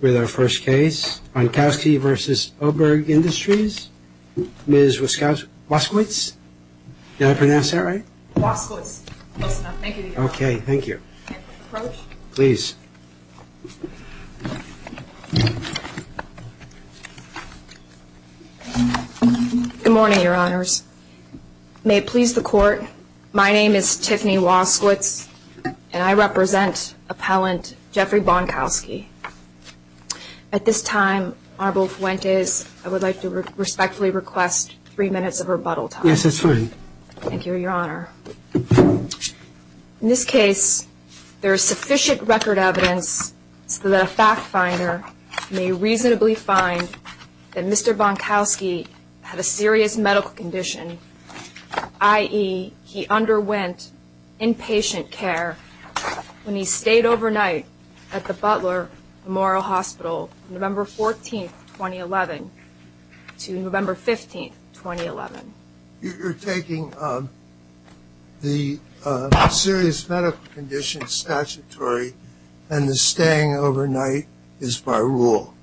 With our first case, Onkowski v. Oberg Industries, Ms. Woskowitz. Did I pronounce that right? Woskowitz. Close enough. Thank you. Okay, thank you. Please. Good morning, your honors. May it please the court, my name is Tiffany Woskowitz and I represent appellant Jeffrey Bonkowski. At this time, Honorable Fuentes, I would like to respectfully request three minutes of rebuttal time. Yes, that's fine. Thank you, your honor. In this case, there is sufficient record evidence so that a fact finder may reasonably find that Mr. Bonkowski had a serious medical condition, i.e., he underwent inpatient care when he stayed overnight at the Butler Memorial Hospital from November 14, 2011 to November 15, 2011. You're taking the serious medical condition statutory and the staying overnight is by rule,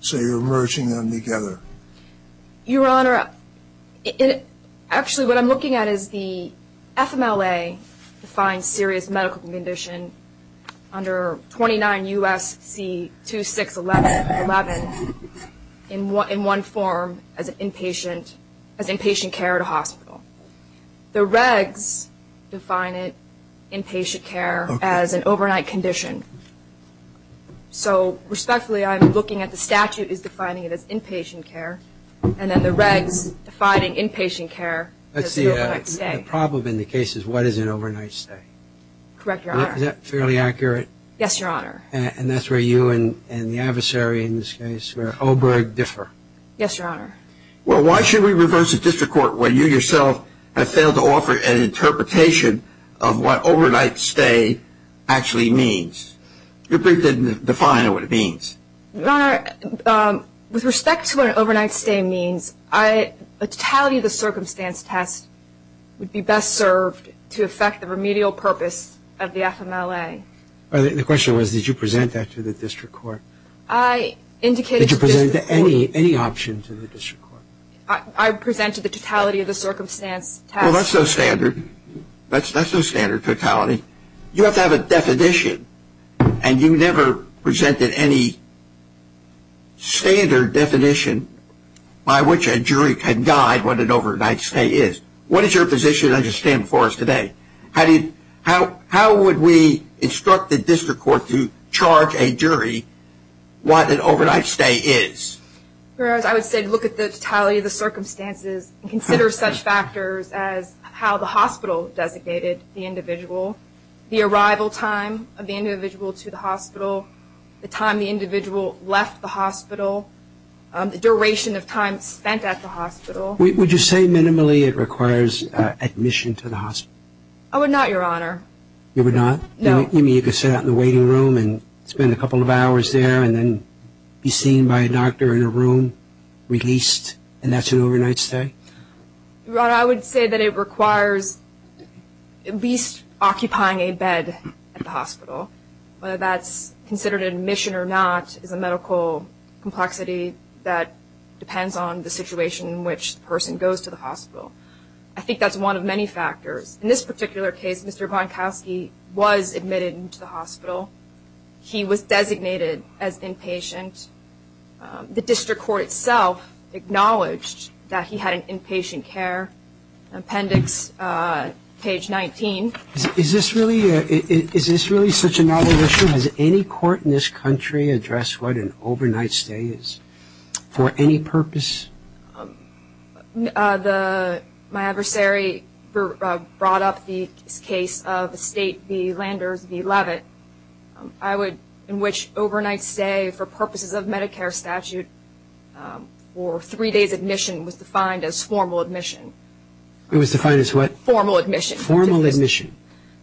so you're merging them together. Your honor, actually what I'm looking at is the FMLA defines serious medical condition under 29 U.S.C. 2611 in one form as inpatient care at a hospital. The regs define it inpatient care as an overnight condition. So, respectfully, I'm looking at the statute is defining it as inpatient care and then the regs defining inpatient care as an overnight stay. Let's see, the problem in the case is what is an overnight stay. Correct, your honor. Is that fairly accurate? Yes, your honor. And that's where you and the adversary in this case, where Oberg, differ. Yes, your honor. Well, why should we reverse the district court when you yourself have failed to offer an interpretation of what overnight stay actually means? Your brief didn't define what it means. Your honor, with respect to what overnight stay means, the totality of the circumstance test would be best served to affect the remedial purpose of the FMLA. The question was did you present that to the district court? I indicated to the district court. Did you present any option to the district court? I presented the totality of the circumstance test. Well, that's no standard. That's no standard totality. You have to have a definition and you never presented any standard definition by which a jury can guide what an overnight stay is. What is your position as you stand before us today? How would we instruct the district court to charge a jury what an overnight stay is? I would say look at the totality of the circumstances and consider such factors as how the hospital designated the individual, the arrival time of the individual to the hospital, the time the individual left the hospital, the duration of time spent at the hospital. Would you say minimally it requires admission to the hospital? I would not, your honor. You would not? No. You mean you could sit out in the waiting room and spend a couple of hours there and then be seen by a doctor in a room, released, and that's an overnight stay? Your honor, I would say that it requires at least occupying a bed at the hospital. Whether that's considered admission or not is a medical complexity that depends on the situation in which the person goes to the hospital. I think that's one of many factors. In this particular case, Mr. Bonkowski was admitted into the hospital. He was designated as inpatient. The district court itself acknowledged that he had an inpatient care appendix, page 19. Is this really such a novel issue? Has any court in this country addressed what an overnight stay is for any purpose? My adversary brought up the case of the state, the Landers v. Levitt, in which overnight stay for purposes of Medicare statute for three days' admission was defined as formal admission. It was defined as what? Formal admission. Formal admission.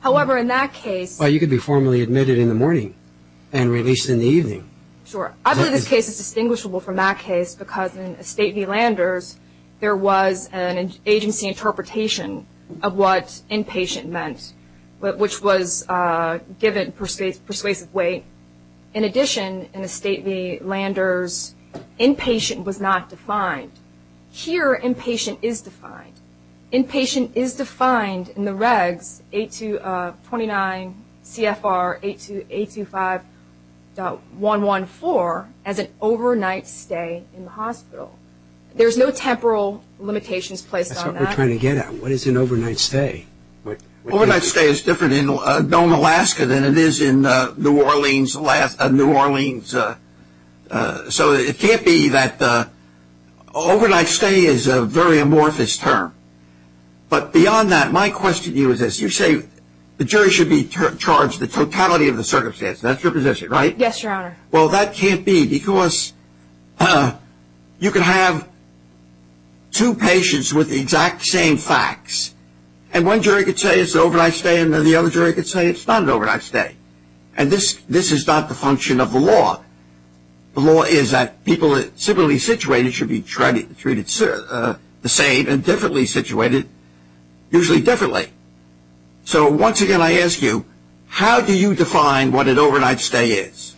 However, in that case… Well, you could be formally admitted in the morning and released in the evening. Sure. I believe this case is distinguishable from that case because in a state v. Landers, there was an agency interpretation of what inpatient meant, which was given persuasive weight. In addition, in a state v. Landers, inpatient was not defined. Here, inpatient is defined. Inpatient is defined in the regs 829 CFR 825.114 as an overnight stay in the hospital. There's no temporal limitations placed on that. That's what we're trying to get at. What is an overnight stay? Overnight stay is different in Dome, Alaska, than it is in New Orleans. New Orleans. It can't be that overnight stay is a very amorphous term. Beyond that, my question to you is this. You say the jury should be charged the totality of the circumstances. That's your position, right? Yes, Your Honor. That can't be because you can have two patients with the exact same facts, and one jury could say it's an overnight stay, and the other jury could say it's not an overnight stay. And this is not the function of the law. The law is that people that are similarly situated should be treated the same, and differently situated, usually differently. So, once again, I ask you, how do you define what an overnight stay is?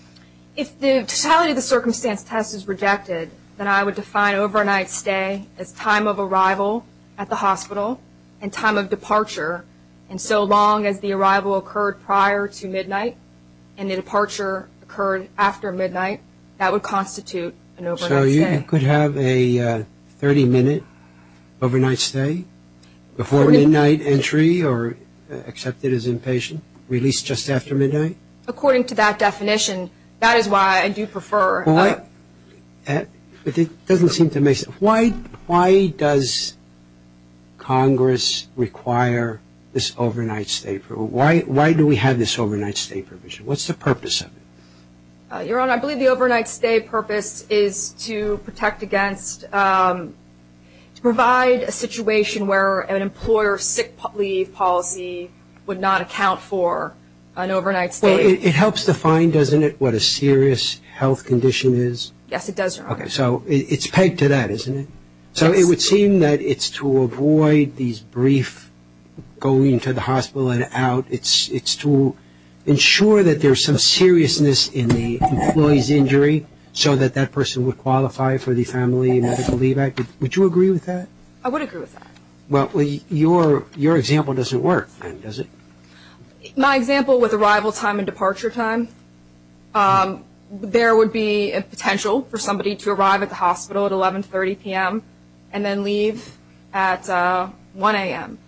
If the totality of the circumstance test is rejected, then I would define overnight stay as time of arrival at the hospital and time of departure. And so long as the arrival occurred prior to midnight, and the departure occurred after midnight, that would constitute an overnight stay. So you could have a 30-minute overnight stay before midnight entry or, except it is inpatient, released just after midnight? According to that definition, that is why I do prefer- But it doesn't seem to make sense. Why does Congress require this overnight stay? Why do we have this overnight stay provision? What's the purpose of it? Your Honor, I believe the overnight stay purpose is to protect against, to provide a situation where an employer sick leave policy would not account for an overnight stay. So it helps define, doesn't it, what a serious health condition is? Yes, it does, Your Honor. So it's pegged to that, isn't it? So it would seem that it's to avoid these brief going to the hospital and out. It's to ensure that there's some seriousness in the employee's injury, so that that person would qualify for the family medical leave act. Would you agree with that? I would agree with that. Well, your example doesn't work, then, does it? My example with arrival time and departure time, there would be a potential for somebody to arrive at the hospital at 1130 p.m. and then leave at 1 a.m.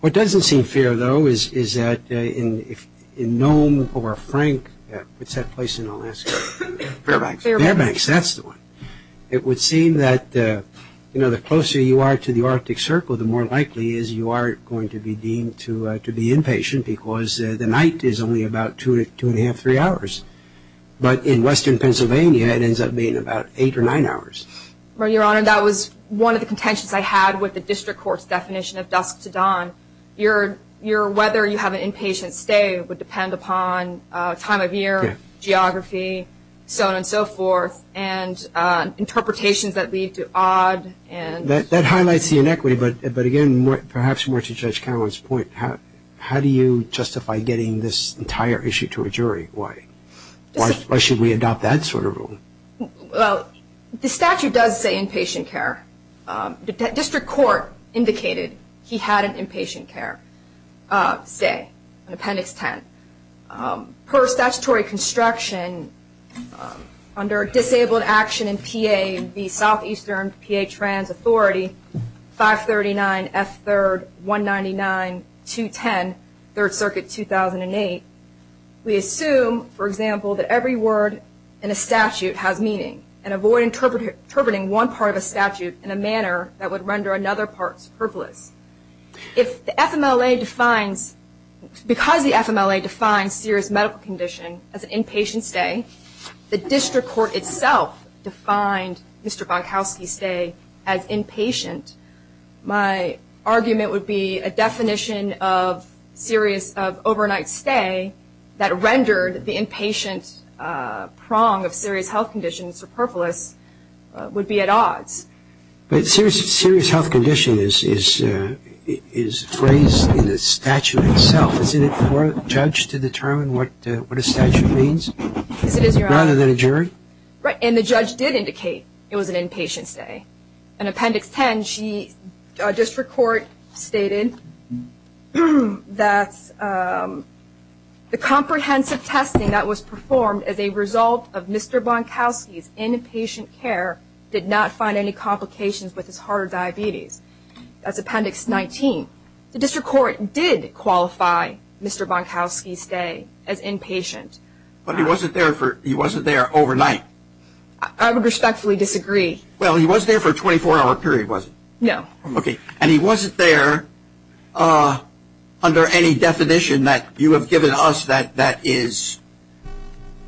What doesn't seem fair, though, is that in Nome or Frank, what's that place in Alaska? Fairbanks. Fairbanks, that's the one. It would seem that the closer you are to the Arctic Circle, the more likely is you are going to be deemed to be inpatient because the night is only about two and a half, three hours. But in western Pennsylvania, it ends up being about eight or nine hours. Well, Your Honor, that was one of the contentions I had with the district court's definition of dusk to dawn. Your whether you have an inpatient stay would depend upon time of year, geography, so on and so forth, and interpretations that lead to odd. That highlights the inequity, but again, perhaps more to Judge Cameron's point, how do you justify getting this entire issue to a jury? Why? Why should we adopt that sort of rule? Well, the statute does say inpatient care. The district court indicated he had an inpatient care stay, appendix 10. Per statutory construction, under disabled action in PA, the Southeastern PA Trans Authority, 539F3-199-210, 3rd Circuit, 2008, we assume, for example, that every word in a statute has meaning, and avoid interpreting one part of a statute in a manner that would render another part superfluous. If the FMLA defines, because the FMLA defines serious medical condition as an inpatient stay, the district court itself defined Mr. Bonkowski's stay as inpatient. My argument would be a definition of serious overnight stay that rendered the inpatient prong of serious health condition superfluous would be at odds. But serious health condition is phrased in the statute itself. Isn't it for a judge to determine what a statute means? Rather than a jury? And the judge did indicate it was an inpatient stay. In appendix 10, district court stated that the comprehensive testing that was performed as a result of Mr. Bonkowski's inpatient care did not find any complications with his heart or diabetes. That's appendix 19. The district court did qualify Mr. Bonkowski's stay as inpatient. But he wasn't there overnight. I would respectfully disagree. Well, he wasn't there for a 24-hour period, was he? No. And he wasn't there under any definition that you have given us that is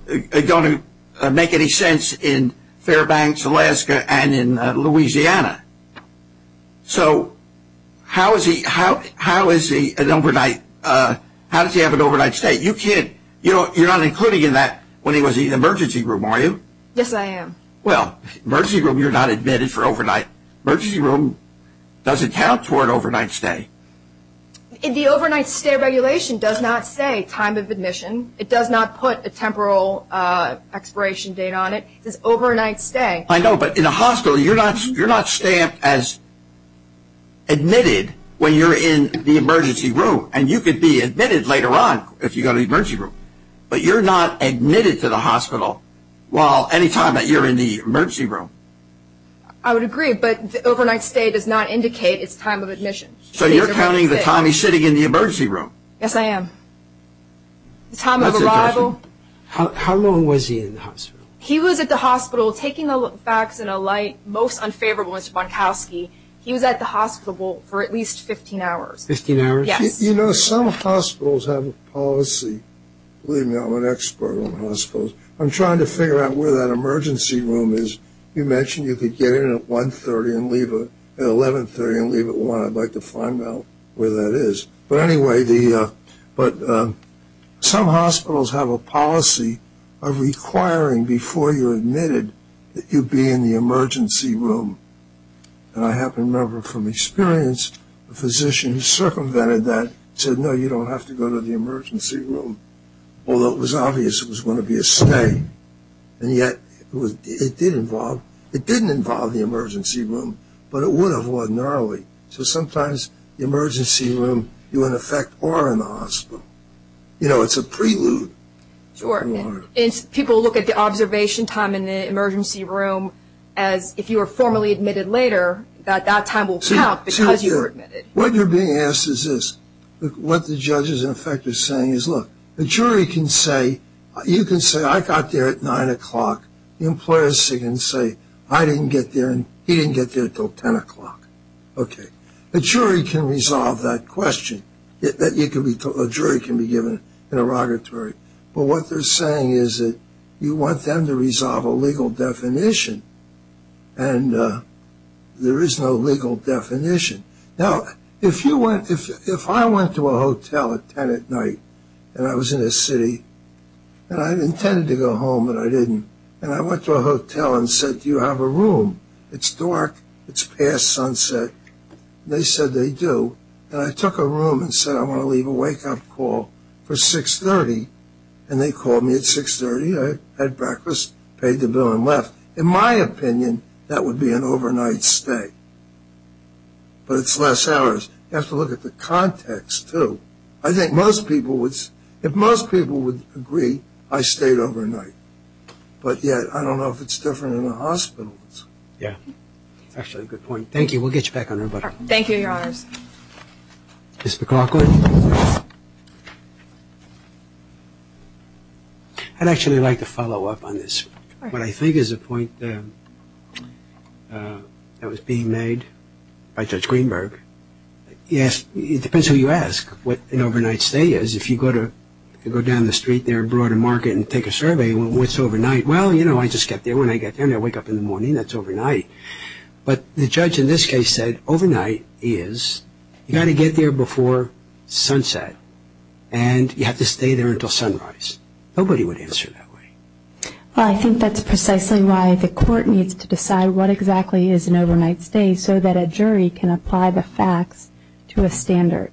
going to make any sense in Fairbanks, Alaska, and in Louisiana. So how is he an overnight, how does he have an overnight stay? You're not including in that when he was in the emergency room, are you? Yes, I am. Well, emergency room, you're not admitted for overnight. Emergency room doesn't count toward overnight stay. The overnight stay regulation does not say time of admission. It does not put a temporal expiration date on it. It says overnight stay. I know, but in a hospital, you're not stamped as admitted when you're in the emergency room. And you could be admitted later on if you go to the emergency room. But you're not admitted to the hospital any time that you're in the emergency room. I would agree, but overnight stay does not indicate its time of admission. So you're counting the time he's sitting in the emergency room. Yes, I am. The time of arrival. How long was he in the hospital? He was at the hospital taking a vaccine, a light, most unfavorable to Mr. Bonkowski. He was at the hospital for at least 15 hours. 15 hours? Yes. You know, some hospitals have a policy. Believe me, I'm an expert on hospitals. I'm trying to figure out where that emergency room is. You mentioned you could get in at 1.30 and leave at 11.30 and leave at 1.00. I'd like to find out where that is. But anyway, some hospitals have a policy of requiring before you're admitted that you be in the emergency room. And I happen to remember from experience, a physician who circumvented that said, no, you don't have to go to the emergency room. Although it was obvious it was going to be a stay. And yet it did involve, it didn't involve the emergency room, but it would have ordinarily. So sometimes the emergency room, you in effect are in the hospital. You know, it's a prelude. Sure. People look at the observation time in the emergency room as if you were formally admitted later, that that time will count because you were admitted. What you're being asked is this. What the judge is in effect is saying is, look, the jury can say, you can say, I got there at 9 o'clock. The employer can say, I didn't get there and he didn't get there until 10 o'clock. Okay. The jury can resolve that question. A jury can be given an interrogatory. But what they're saying is that you want them to resolve a legal definition. And there is no legal definition. Now, if you went, if I went to a hotel at 10 at night and I was in a city and I intended to go home, but I didn't. And I went to a hotel and said, do you have a room? It's dark. It's past sunset. They said they do. And I took a room and said, I want to leave a wake-up call for 630. And they called me at 630. I had breakfast, paid the bill and left. In my opinion, that would be an overnight stay. But it's less hours. You have to look at the context, too. I think most people would, if most people would agree, I stayed overnight. But yet, I don't know if it's different in the hospitals. Yeah. That's actually a good point. Thank you. We'll get you back on everybody. Thank you, Your Honors. Ms. McLaughlin. I'd actually like to follow up on this. What I think is a point that was being made by Judge Greenberg. Yes, it depends who you ask what an overnight stay is. If you go down the street there in Broder Market and take a survey, what's overnight? Well, you know, I just get there when I get there and I wake up in the morning. That's overnight. But the judge in this case said overnight is you got to get there before sunset and you have to stay there until sunrise. Nobody would answer that way. Well, I think that's precisely why the court needs to decide what exactly is an overnight stay so that a jury can apply the facts to a standard.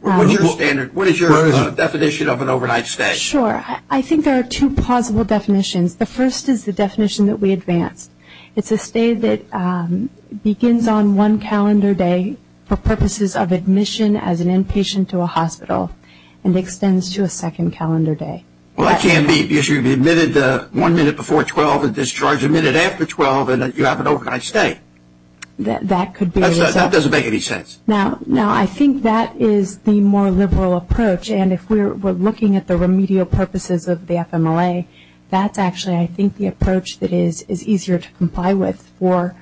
What's your standard? What is your definition of an overnight stay? Sure. I think there are two possible definitions. The first is the definition that we advanced. It's a stay that begins on one calendar day for purposes of admission as an inpatient to a hospital and extends to a second calendar day. Well, that can't be because you'd be admitted one minute before 12 and discharged a minute after 12 and you have an overnight stay. That could be. That doesn't make any sense. Now, I think that is the more liberal approach. And if we're looking at the remedial purposes of the FMLA, that's actually I think the approach that is easier to comply with for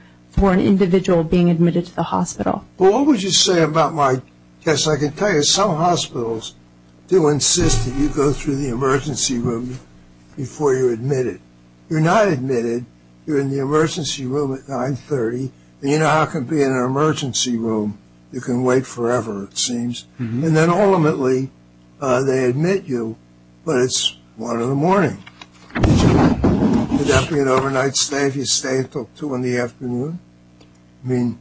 an individual being admitted to the hospital. Well, what would you say about my guess? I can tell you some hospitals do insist that you go through the emergency room before you're admitted. You're not admitted. You're in the emergency room at 930. You know how it can be in an emergency room. You can wait forever, it seems. And then ultimately, they admit you, but it's one in the morning. Good afternoon, overnight stay. If you stay, it took two in the afternoon. I mean,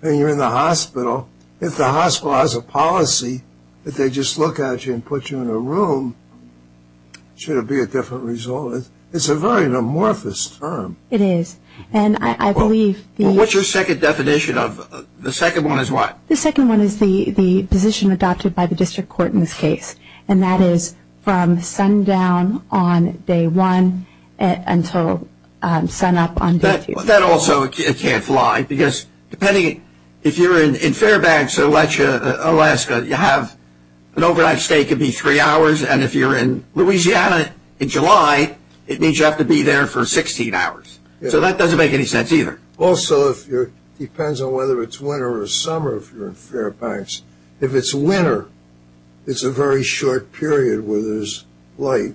then you're in the hospital. If the hospital has a policy that they just look at you and put you in a room, should it be a different result? It's a very amorphous term. It is. And I believe the- Well, what's your second definition of- the second one is what? The second one is the position adopted by the district court in this case, and that is from sundown on day one until sunup on day two. That also can't fly because depending- if you're in Fairbanks or Alaska, you have- an overnight stay could be three hours, and if you're in Louisiana in July, it means you have to be there for 16 hours. So that doesn't make any sense either. Also, if you're- depends on whether it's winter or summer if you're in Fairbanks. If it's winter, it's a very short period where there's light.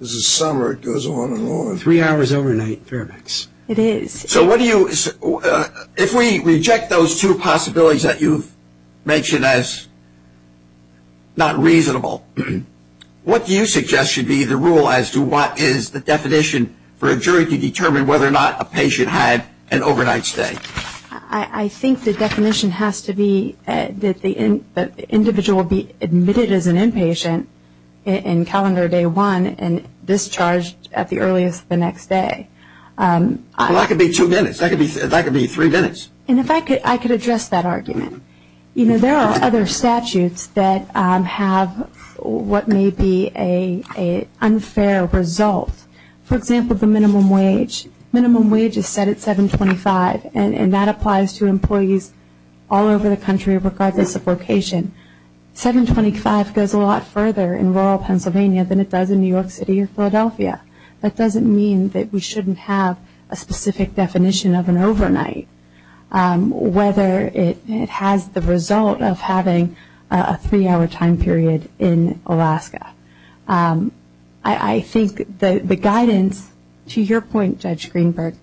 If it's summer, it goes on and on. Three hours overnight, Fairbanks. It is. So what do you- if we reject those two possibilities that you've mentioned as not reasonable, what do you suggest should be the rule as to what is the definition for a jury to determine whether or not a patient had an overnight stay? I think the definition has to be that the individual be admitted as an inpatient in calendar day one and discharged at the earliest the next day. Well, that could be two minutes. That could be three minutes. And if I could- I could address that argument. You know, there are other statutes that have what may be an unfair result. For example, the minimum wage. Minimum wage is set at $7.25, and that applies to employees all over the country regardless of location. $7.25 goes a lot further in rural Pennsylvania than it does in New York City or Philadelphia. That doesn't mean that we shouldn't have a specific definition of an overnight, whether it has the result of having a three-hour time period in Alaska. I think the guidance, to your point, Judge Greenberg,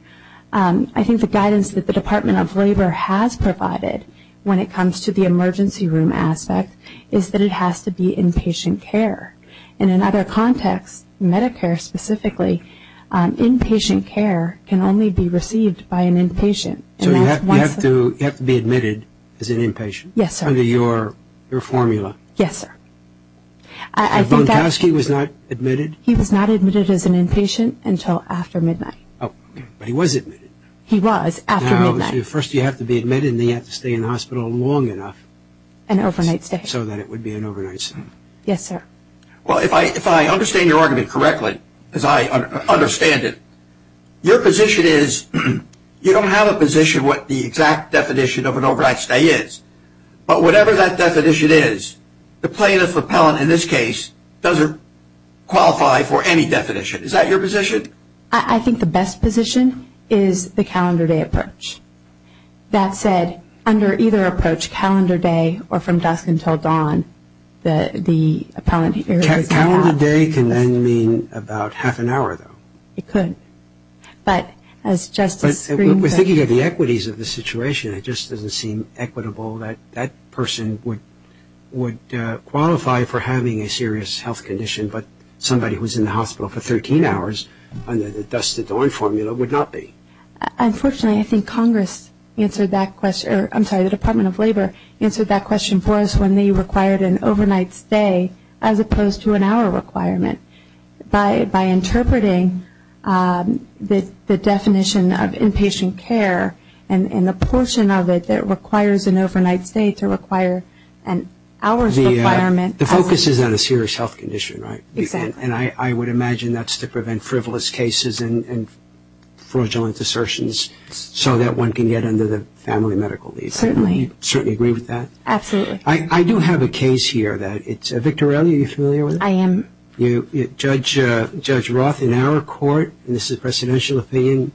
I think the guidance that the Department of Labor has provided when it comes to the emergency room aspect is that it has to be inpatient care. And in other contexts, Medicare specifically, inpatient care can only be received by an inpatient. So you have to be admitted as an inpatient? Yes, sir. Under your formula? Yes, sir. So Vontkowski was not admitted? He was not admitted as an inpatient until after midnight. Oh, but he was admitted. He was after midnight. Now, first you have to be admitted, and then you have to stay in the hospital long enough. An overnight stay. So that it would be an overnight stay. Yes, sir. Well, if I understand your argument correctly, because I understand it, your position is you don't have a position what the exact definition of an overnight stay is. But whatever that definition is, the plaintiff appellant, in this case, doesn't qualify for any definition. Is that your position? I think the best position is the calendar day approach. That said, under either approach, calendar day or from dusk until dawn, the appellant areas are not. Calendar day can then mean about half an hour, though. It could. But as Justice Greenberg. We're thinking of the equities of the situation. It just doesn't seem equitable that that person would qualify for having a serious health condition, but somebody who was in the hospital for 13 hours under the dusk until dawn formula would not be. Unfortunately, I think Congress answered that question. I'm sorry, the Department of Labor answered that question for us when they required an overnight stay as opposed to an hour requirement. By interpreting the definition of inpatient care and the portion of it that requires an overnight stay to require an hour's requirement. The focus is on a serious health condition, right? Exactly. And I would imagine that's to prevent frivolous cases and fraudulent assertions so that one can get under the family medical leave. Certainly. Do you certainly agree with that? Absolutely. I do have a case here. Victoria, are you familiar with it? I am. Judge Roth, in our court, and this is a presidential opinion,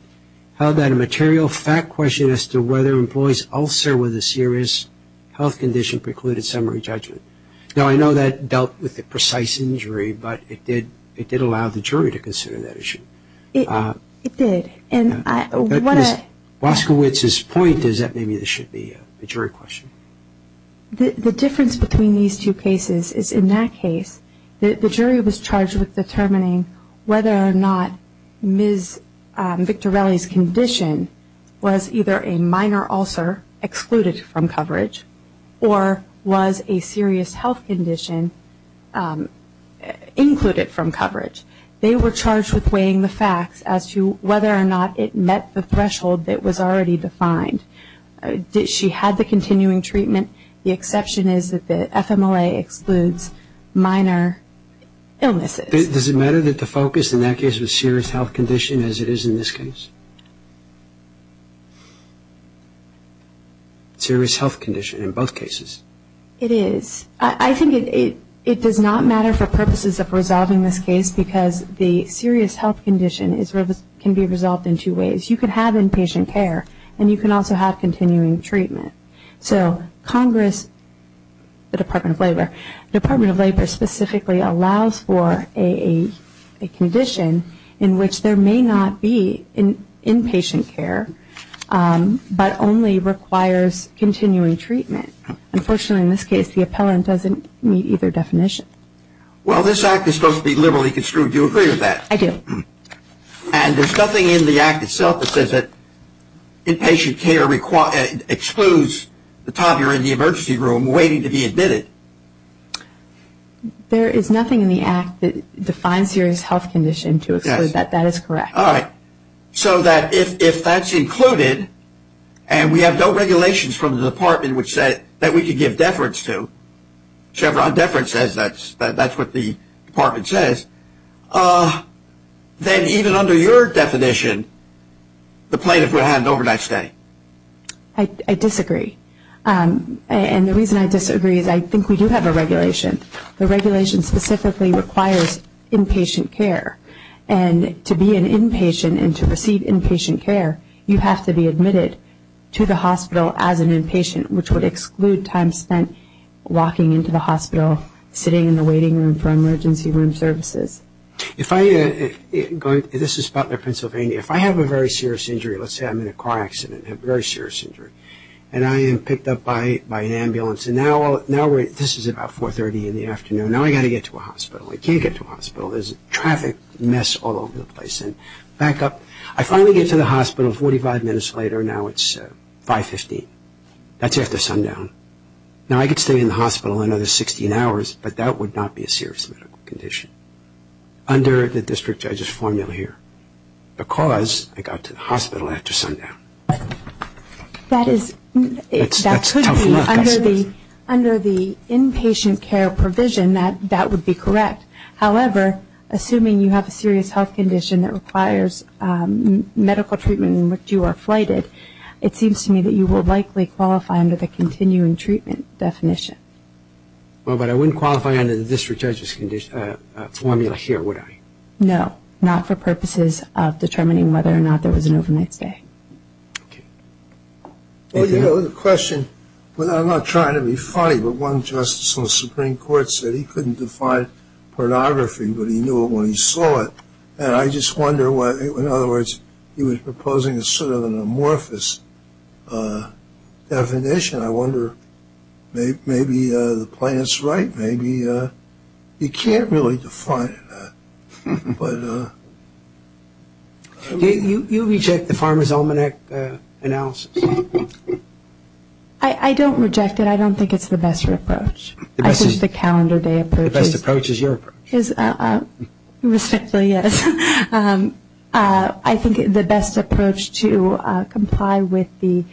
how about a material fact question as to whether an employee's ulcer with a serious health condition precluded summary judgment? Now, I know that dealt with the precise injury, but it did allow the jury to consider that issue. It did. And I want to. But Ms. Boskowitz's point is that maybe this should be a jury question. The difference between these two cases is, in that case, the jury was charged with determining whether or not Ms. Victorelli's condition was either a minor ulcer excluded from coverage or was a serious health condition included from coverage. They were charged with weighing the facts as to whether or not it met the threshold that was already defined. She had the continuing treatment. The exception is that the FMLA excludes minor illnesses. Does it matter that the focus in that case was serious health condition as it is in this case? Serious health condition in both cases. It is. I think it does not matter for purposes of resolving this case because the serious health condition can be resolved in two ways. You can have inpatient care and you can also have continuing treatment. So Congress, the Department of Labor, the Department of Labor specifically allows for a condition in which there may not be inpatient care but only requires continuing treatment. Unfortunately, in this case, the appellant doesn't meet either definition. Well, this act is supposed to be liberally construed. Do you agree with that? I do. And there's nothing in the act itself that says that inpatient care excludes the time you're in the emergency room waiting to be admitted. There is nothing in the act that defines serious health condition to exclude that. That is correct. All right. So that if that's included and we have no regulations from the department that we can give deference to, Chevron deference says that's what the department says, then even under your definition, the plaintiff would have an overnight stay. I disagree. And the reason I disagree is I think we do have a regulation. The regulation specifically requires inpatient care. And to be an inpatient and to receive inpatient care, you have to be admitted to the hospital as an inpatient, which would exclude time spent walking into the hospital, sitting in the waiting room for emergency room services. This is Butler, Pennsylvania. If I have a very serious injury, let's say I'm in a car accident, a very serious injury, and I am picked up by an ambulance, and now this is about 4.30 in the afternoon. Now I've got to get to a hospital. I can't get to a hospital. There's a traffic mess all over the place. Back up. I finally get to the hospital 45 minutes later. Now it's 5.15. That's after sundown. Now I could stay in the hospital another 16 hours, but that would not be a serious medical condition under the district judge's formula here because I got to the hospital after sundown. That's tough luck. Under the inpatient care provision, that would be correct. However, assuming you have a serious health condition that requires medical treatment in which you are flighted, it seems to me that you will likely qualify under the continuing treatment definition. Well, but I wouldn't qualify under the district judge's formula here, would I? No, not for purposes of determining whether or not there was an overnight stay. Okay. Well, you know, the question, I'm not trying to be funny, but one justice on the Supreme Court said he couldn't define pornography, but he knew it when he saw it. And I just wonder what, in other words, he was proposing a sort of an amorphous definition. I wonder maybe the plan is right. Maybe you can't really define it. But I mean. You reject the Pharma's almanac analysis. I don't reject it. I don't think it's the best approach. I think the calendar day approach is. The best approach is your approach. Respectfully, yes. I think the best approach to comply with the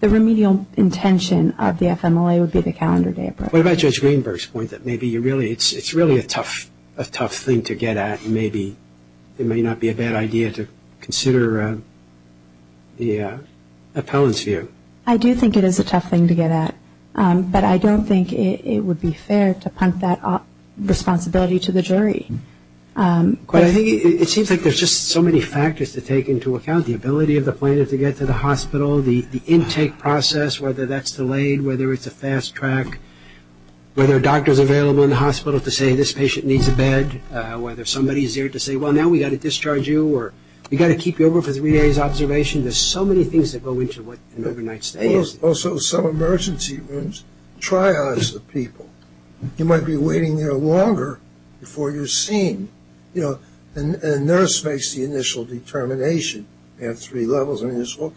remedial intention of the FMLA would be the calendar day approach. What about Judge Greenberg's point that maybe it's really a tough thing to get at and maybe it may not be a bad idea to consider the appellant's view? I do think it is a tough thing to get at. But I don't think it would be fair to punt that responsibility to the jury. But I think it seems like there's just so many factors to take into account. The ability of the plaintiff to get to the hospital. The intake process, whether that's delayed, whether it's a fast track. Whether a doctor's available in the hospital to say this patient needs a bed. Whether somebody's there to say, well, now we've got to discharge you or we've got to keep you over for three days observation. There's so many things that go into what an overnight stay is. Also, some emergency rooms. Try as the people. You might be waiting there longer before you're seen. You know, the nurse makes the initial determination. You have three levels. I mean, there's all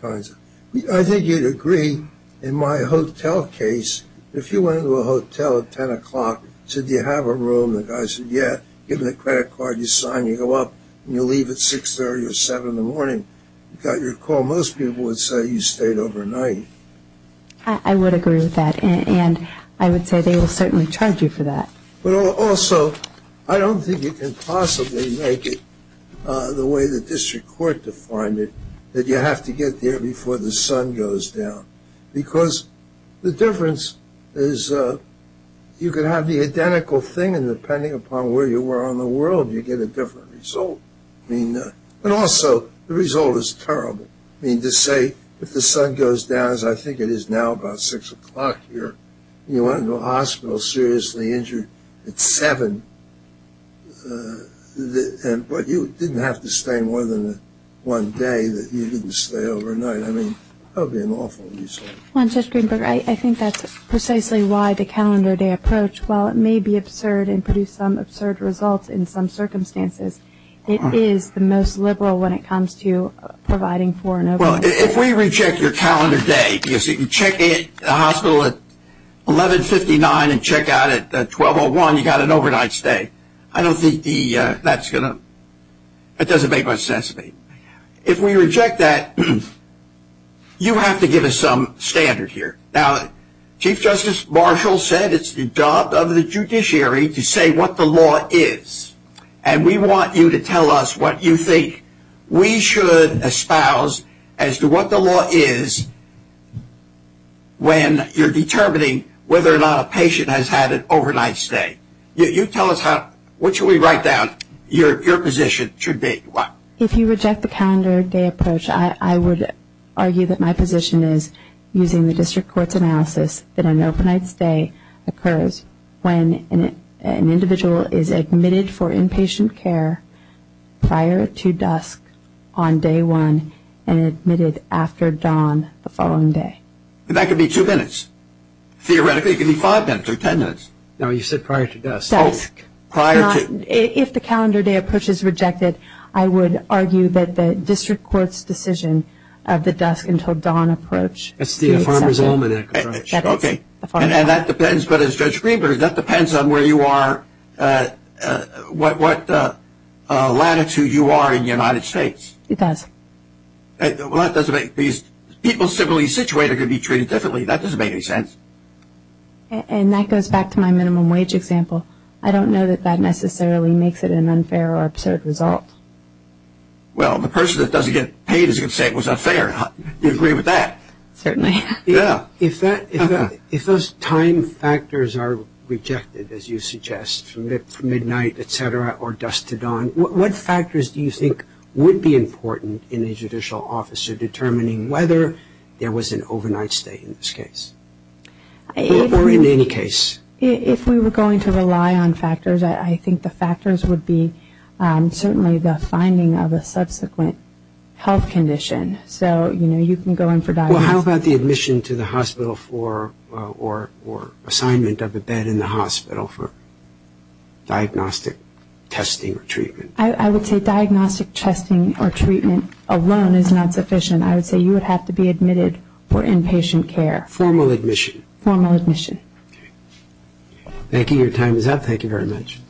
kinds of... I think you'd agree in my hotel case, if you went into a hotel at 10 o'clock, said, do you have a room? The guy said, yeah. Give him the credit card. You sign. You go up. You leave at 6 30 or 7 in the morning. You got your call. Most people would say you stayed overnight. I would agree with that. And I would say they will certainly charge you for that. But also, I don't think you can possibly make it the way the district court defined it, that you have to get there before the sun goes down. Because the difference is you can have the identical thing and depending upon where you were on the world, you get a different result. And also, the result is terrible. I mean, to say if the sun goes down, as I think it is now about 6 o'clock here, you went into a hospital seriously injured at 7, but you didn't have to stay more than one day. You didn't stay overnight. I mean, that would be an awful result. Judge Greenberg, I think that's precisely why the calendar day approach, while it may be absurd and produce some absurd results in some circumstances, it is the most liberal when it comes to providing for an overnight stay. Well, if we reject your calendar day, because you can check in at the hospital at 1159 and check out at 1201, you got an overnight stay. I don't think that's going to, that doesn't make much sense to me. If we reject that, you have to give us some standard here. Now, Chief Justice Marshall said it's the job of the judiciary to say what the law is. And we want you to tell us what you think we should espouse as to what the law is when you're determining whether or not a patient has had an overnight stay. You tell us how, what should we write down your position should be? If you reject the calendar day approach, I would argue that my position is using the district court's analysis that an overnight stay occurs when an individual is admitted for inpatient care prior to dusk on day one and admitted after dawn the following day. That could be two minutes. Theoretically, it could be five minutes or ten minutes. No, you said prior to dusk. Dusk. Prior to. If the calendar day approach is rejected, I would argue that the district court's decision of the dusk until dawn approach. That's the farmer's almanac approach. Okay. And that depends, but as Judge Greenberg, that depends on where you are, what latitude you are in the United States. It does. Well, that doesn't make, people simply situated could be treated differently. That doesn't make any sense. And that goes back to my minimum wage example. I don't know that that necessarily makes it an unfair or absurd result. Well, the person that doesn't get paid is going to say it was unfair. You'd agree with that. Certainly. Yeah. If those time factors are rejected, as you suggest, from midnight, et cetera, or dusk to dawn, what factors do you think would be important in a judicial officer determining whether there was an overnight stay in this case or in any case? If we were going to rely on factors, I think the factors would be certainly the finding of a subsequent health condition. So, you know, you can go in for diagnostics. Well, how about the admission to the hospital for, or assignment of a bed in the hospital for diagnostic testing or treatment? I would say diagnostic testing or treatment alone is not sufficient. I would say you would have to be admitted for inpatient care. Formal admission. Formal admission. Okay. Thank you. Your time is up. Thank you very much.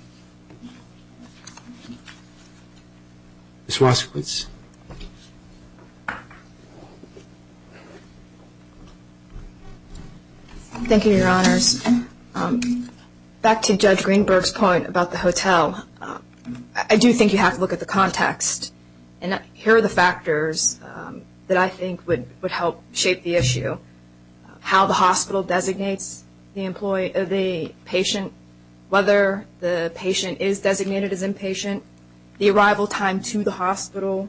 Ms. Waskowitz. Thank you, Your Honors. Back to Judge Greenberg's point about the hotel, I do think you have to look at the context. And here are the factors that I think would help shape the issue. How the hospital designates the patient. Whether the patient is designated as inpatient. The arrival time to the hospital.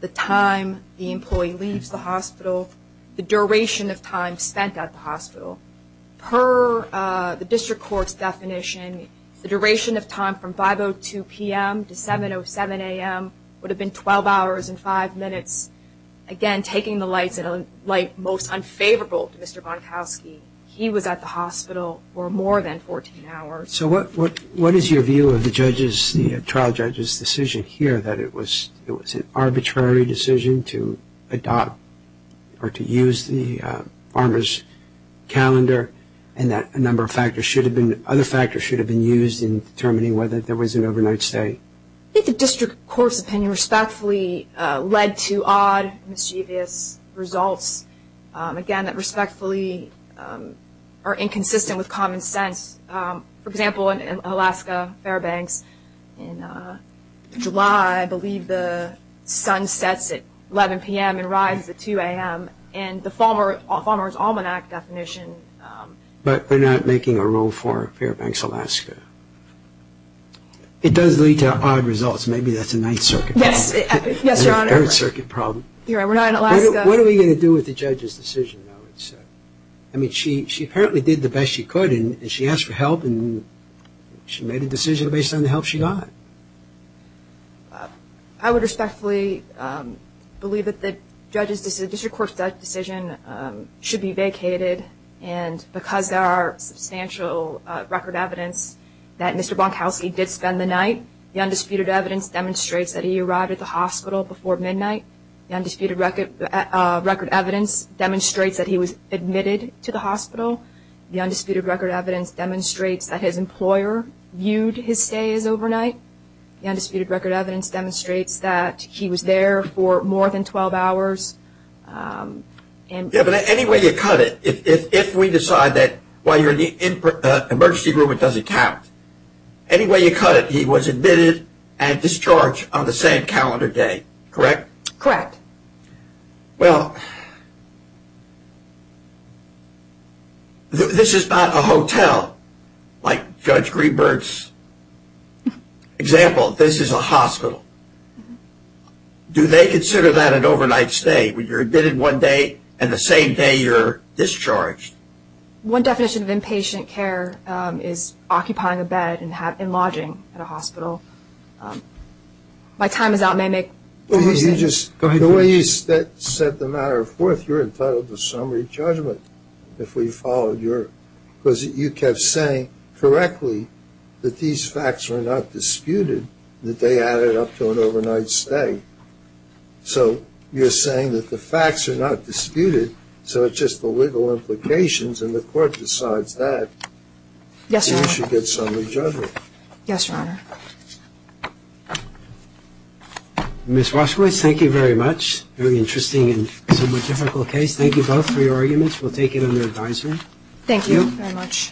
The time the employee leaves the hospital. The duration of time spent at the hospital. Per the district court's definition, the duration of time from 5.02 p.m. to 7.07 a.m. would have been 12 hours and 5 minutes. Again, taking the light most unfavorable to Mr. Bonkowski, he was at the hospital for more than 14 hours. So what is your view of the trial judge's decision here that it was an arbitrary decision to adopt or to use the farmer's calendar and that a number of other factors should have been used in determining whether there was an overnight stay? I think the district court's opinion respectfully led to odd, mischievous results. Again, that respectfully are inconsistent with common sense. For example, in Alaska, Fairbanks, in July I believe the sun sets at 11 p.m. and rises at 2 a.m. And the farmer's almanac definition... But they're not making a rule for Fairbanks, Alaska. It does lead to odd results. Maybe that's a Ninth Circuit problem. Yes, Your Honor. An Earth Circuit problem. Your Honor, we're not in Alaska. What are we going to do with the judge's decision, though? I mean, she apparently did the best she could and she asked for help and she made a decision based on the help she got. I would respectfully believe that the district court's decision should be vacated and because there are substantial record evidence that Mr. Bonkowski did spend the night, the undisputed evidence demonstrates that he arrived at the hospital before midnight. The undisputed record evidence demonstrates that he was admitted to the hospital. The undisputed record evidence demonstrates that his employer viewed his stay as overnight. The undisputed record evidence demonstrates that he was there for more than 12 hours. Yeah, but anyway you cut it, if we decide that while you're in the emergency room it doesn't count, anyway you cut it, he was admitted and discharged on the same calendar day, correct? Correct. Well, this is not a hotel like Judge Greenberg's example. This is a hospital. Do they consider that an overnight stay? When you're admitted one day and the same day you're discharged. One definition of inpatient care is occupying a bed and lodging in a hospital. My time is out, may I make? Go ahead. The way you set the matter forth, you're entitled to summary judgment if we followed your, because you kept saying correctly that these facts were not disputed, that they added up to an overnight stay. So, you're saying that the facts are not disputed, so it's just the legal implications and the court decides that. Yes, Your Honor. Then you should get summary judgment. Yes, Your Honor. Ms. Roshkowitz, thank you very much. Very interesting and somewhat difficult case. Thank you both for your arguments. We'll take it under advisement. Thank you very much.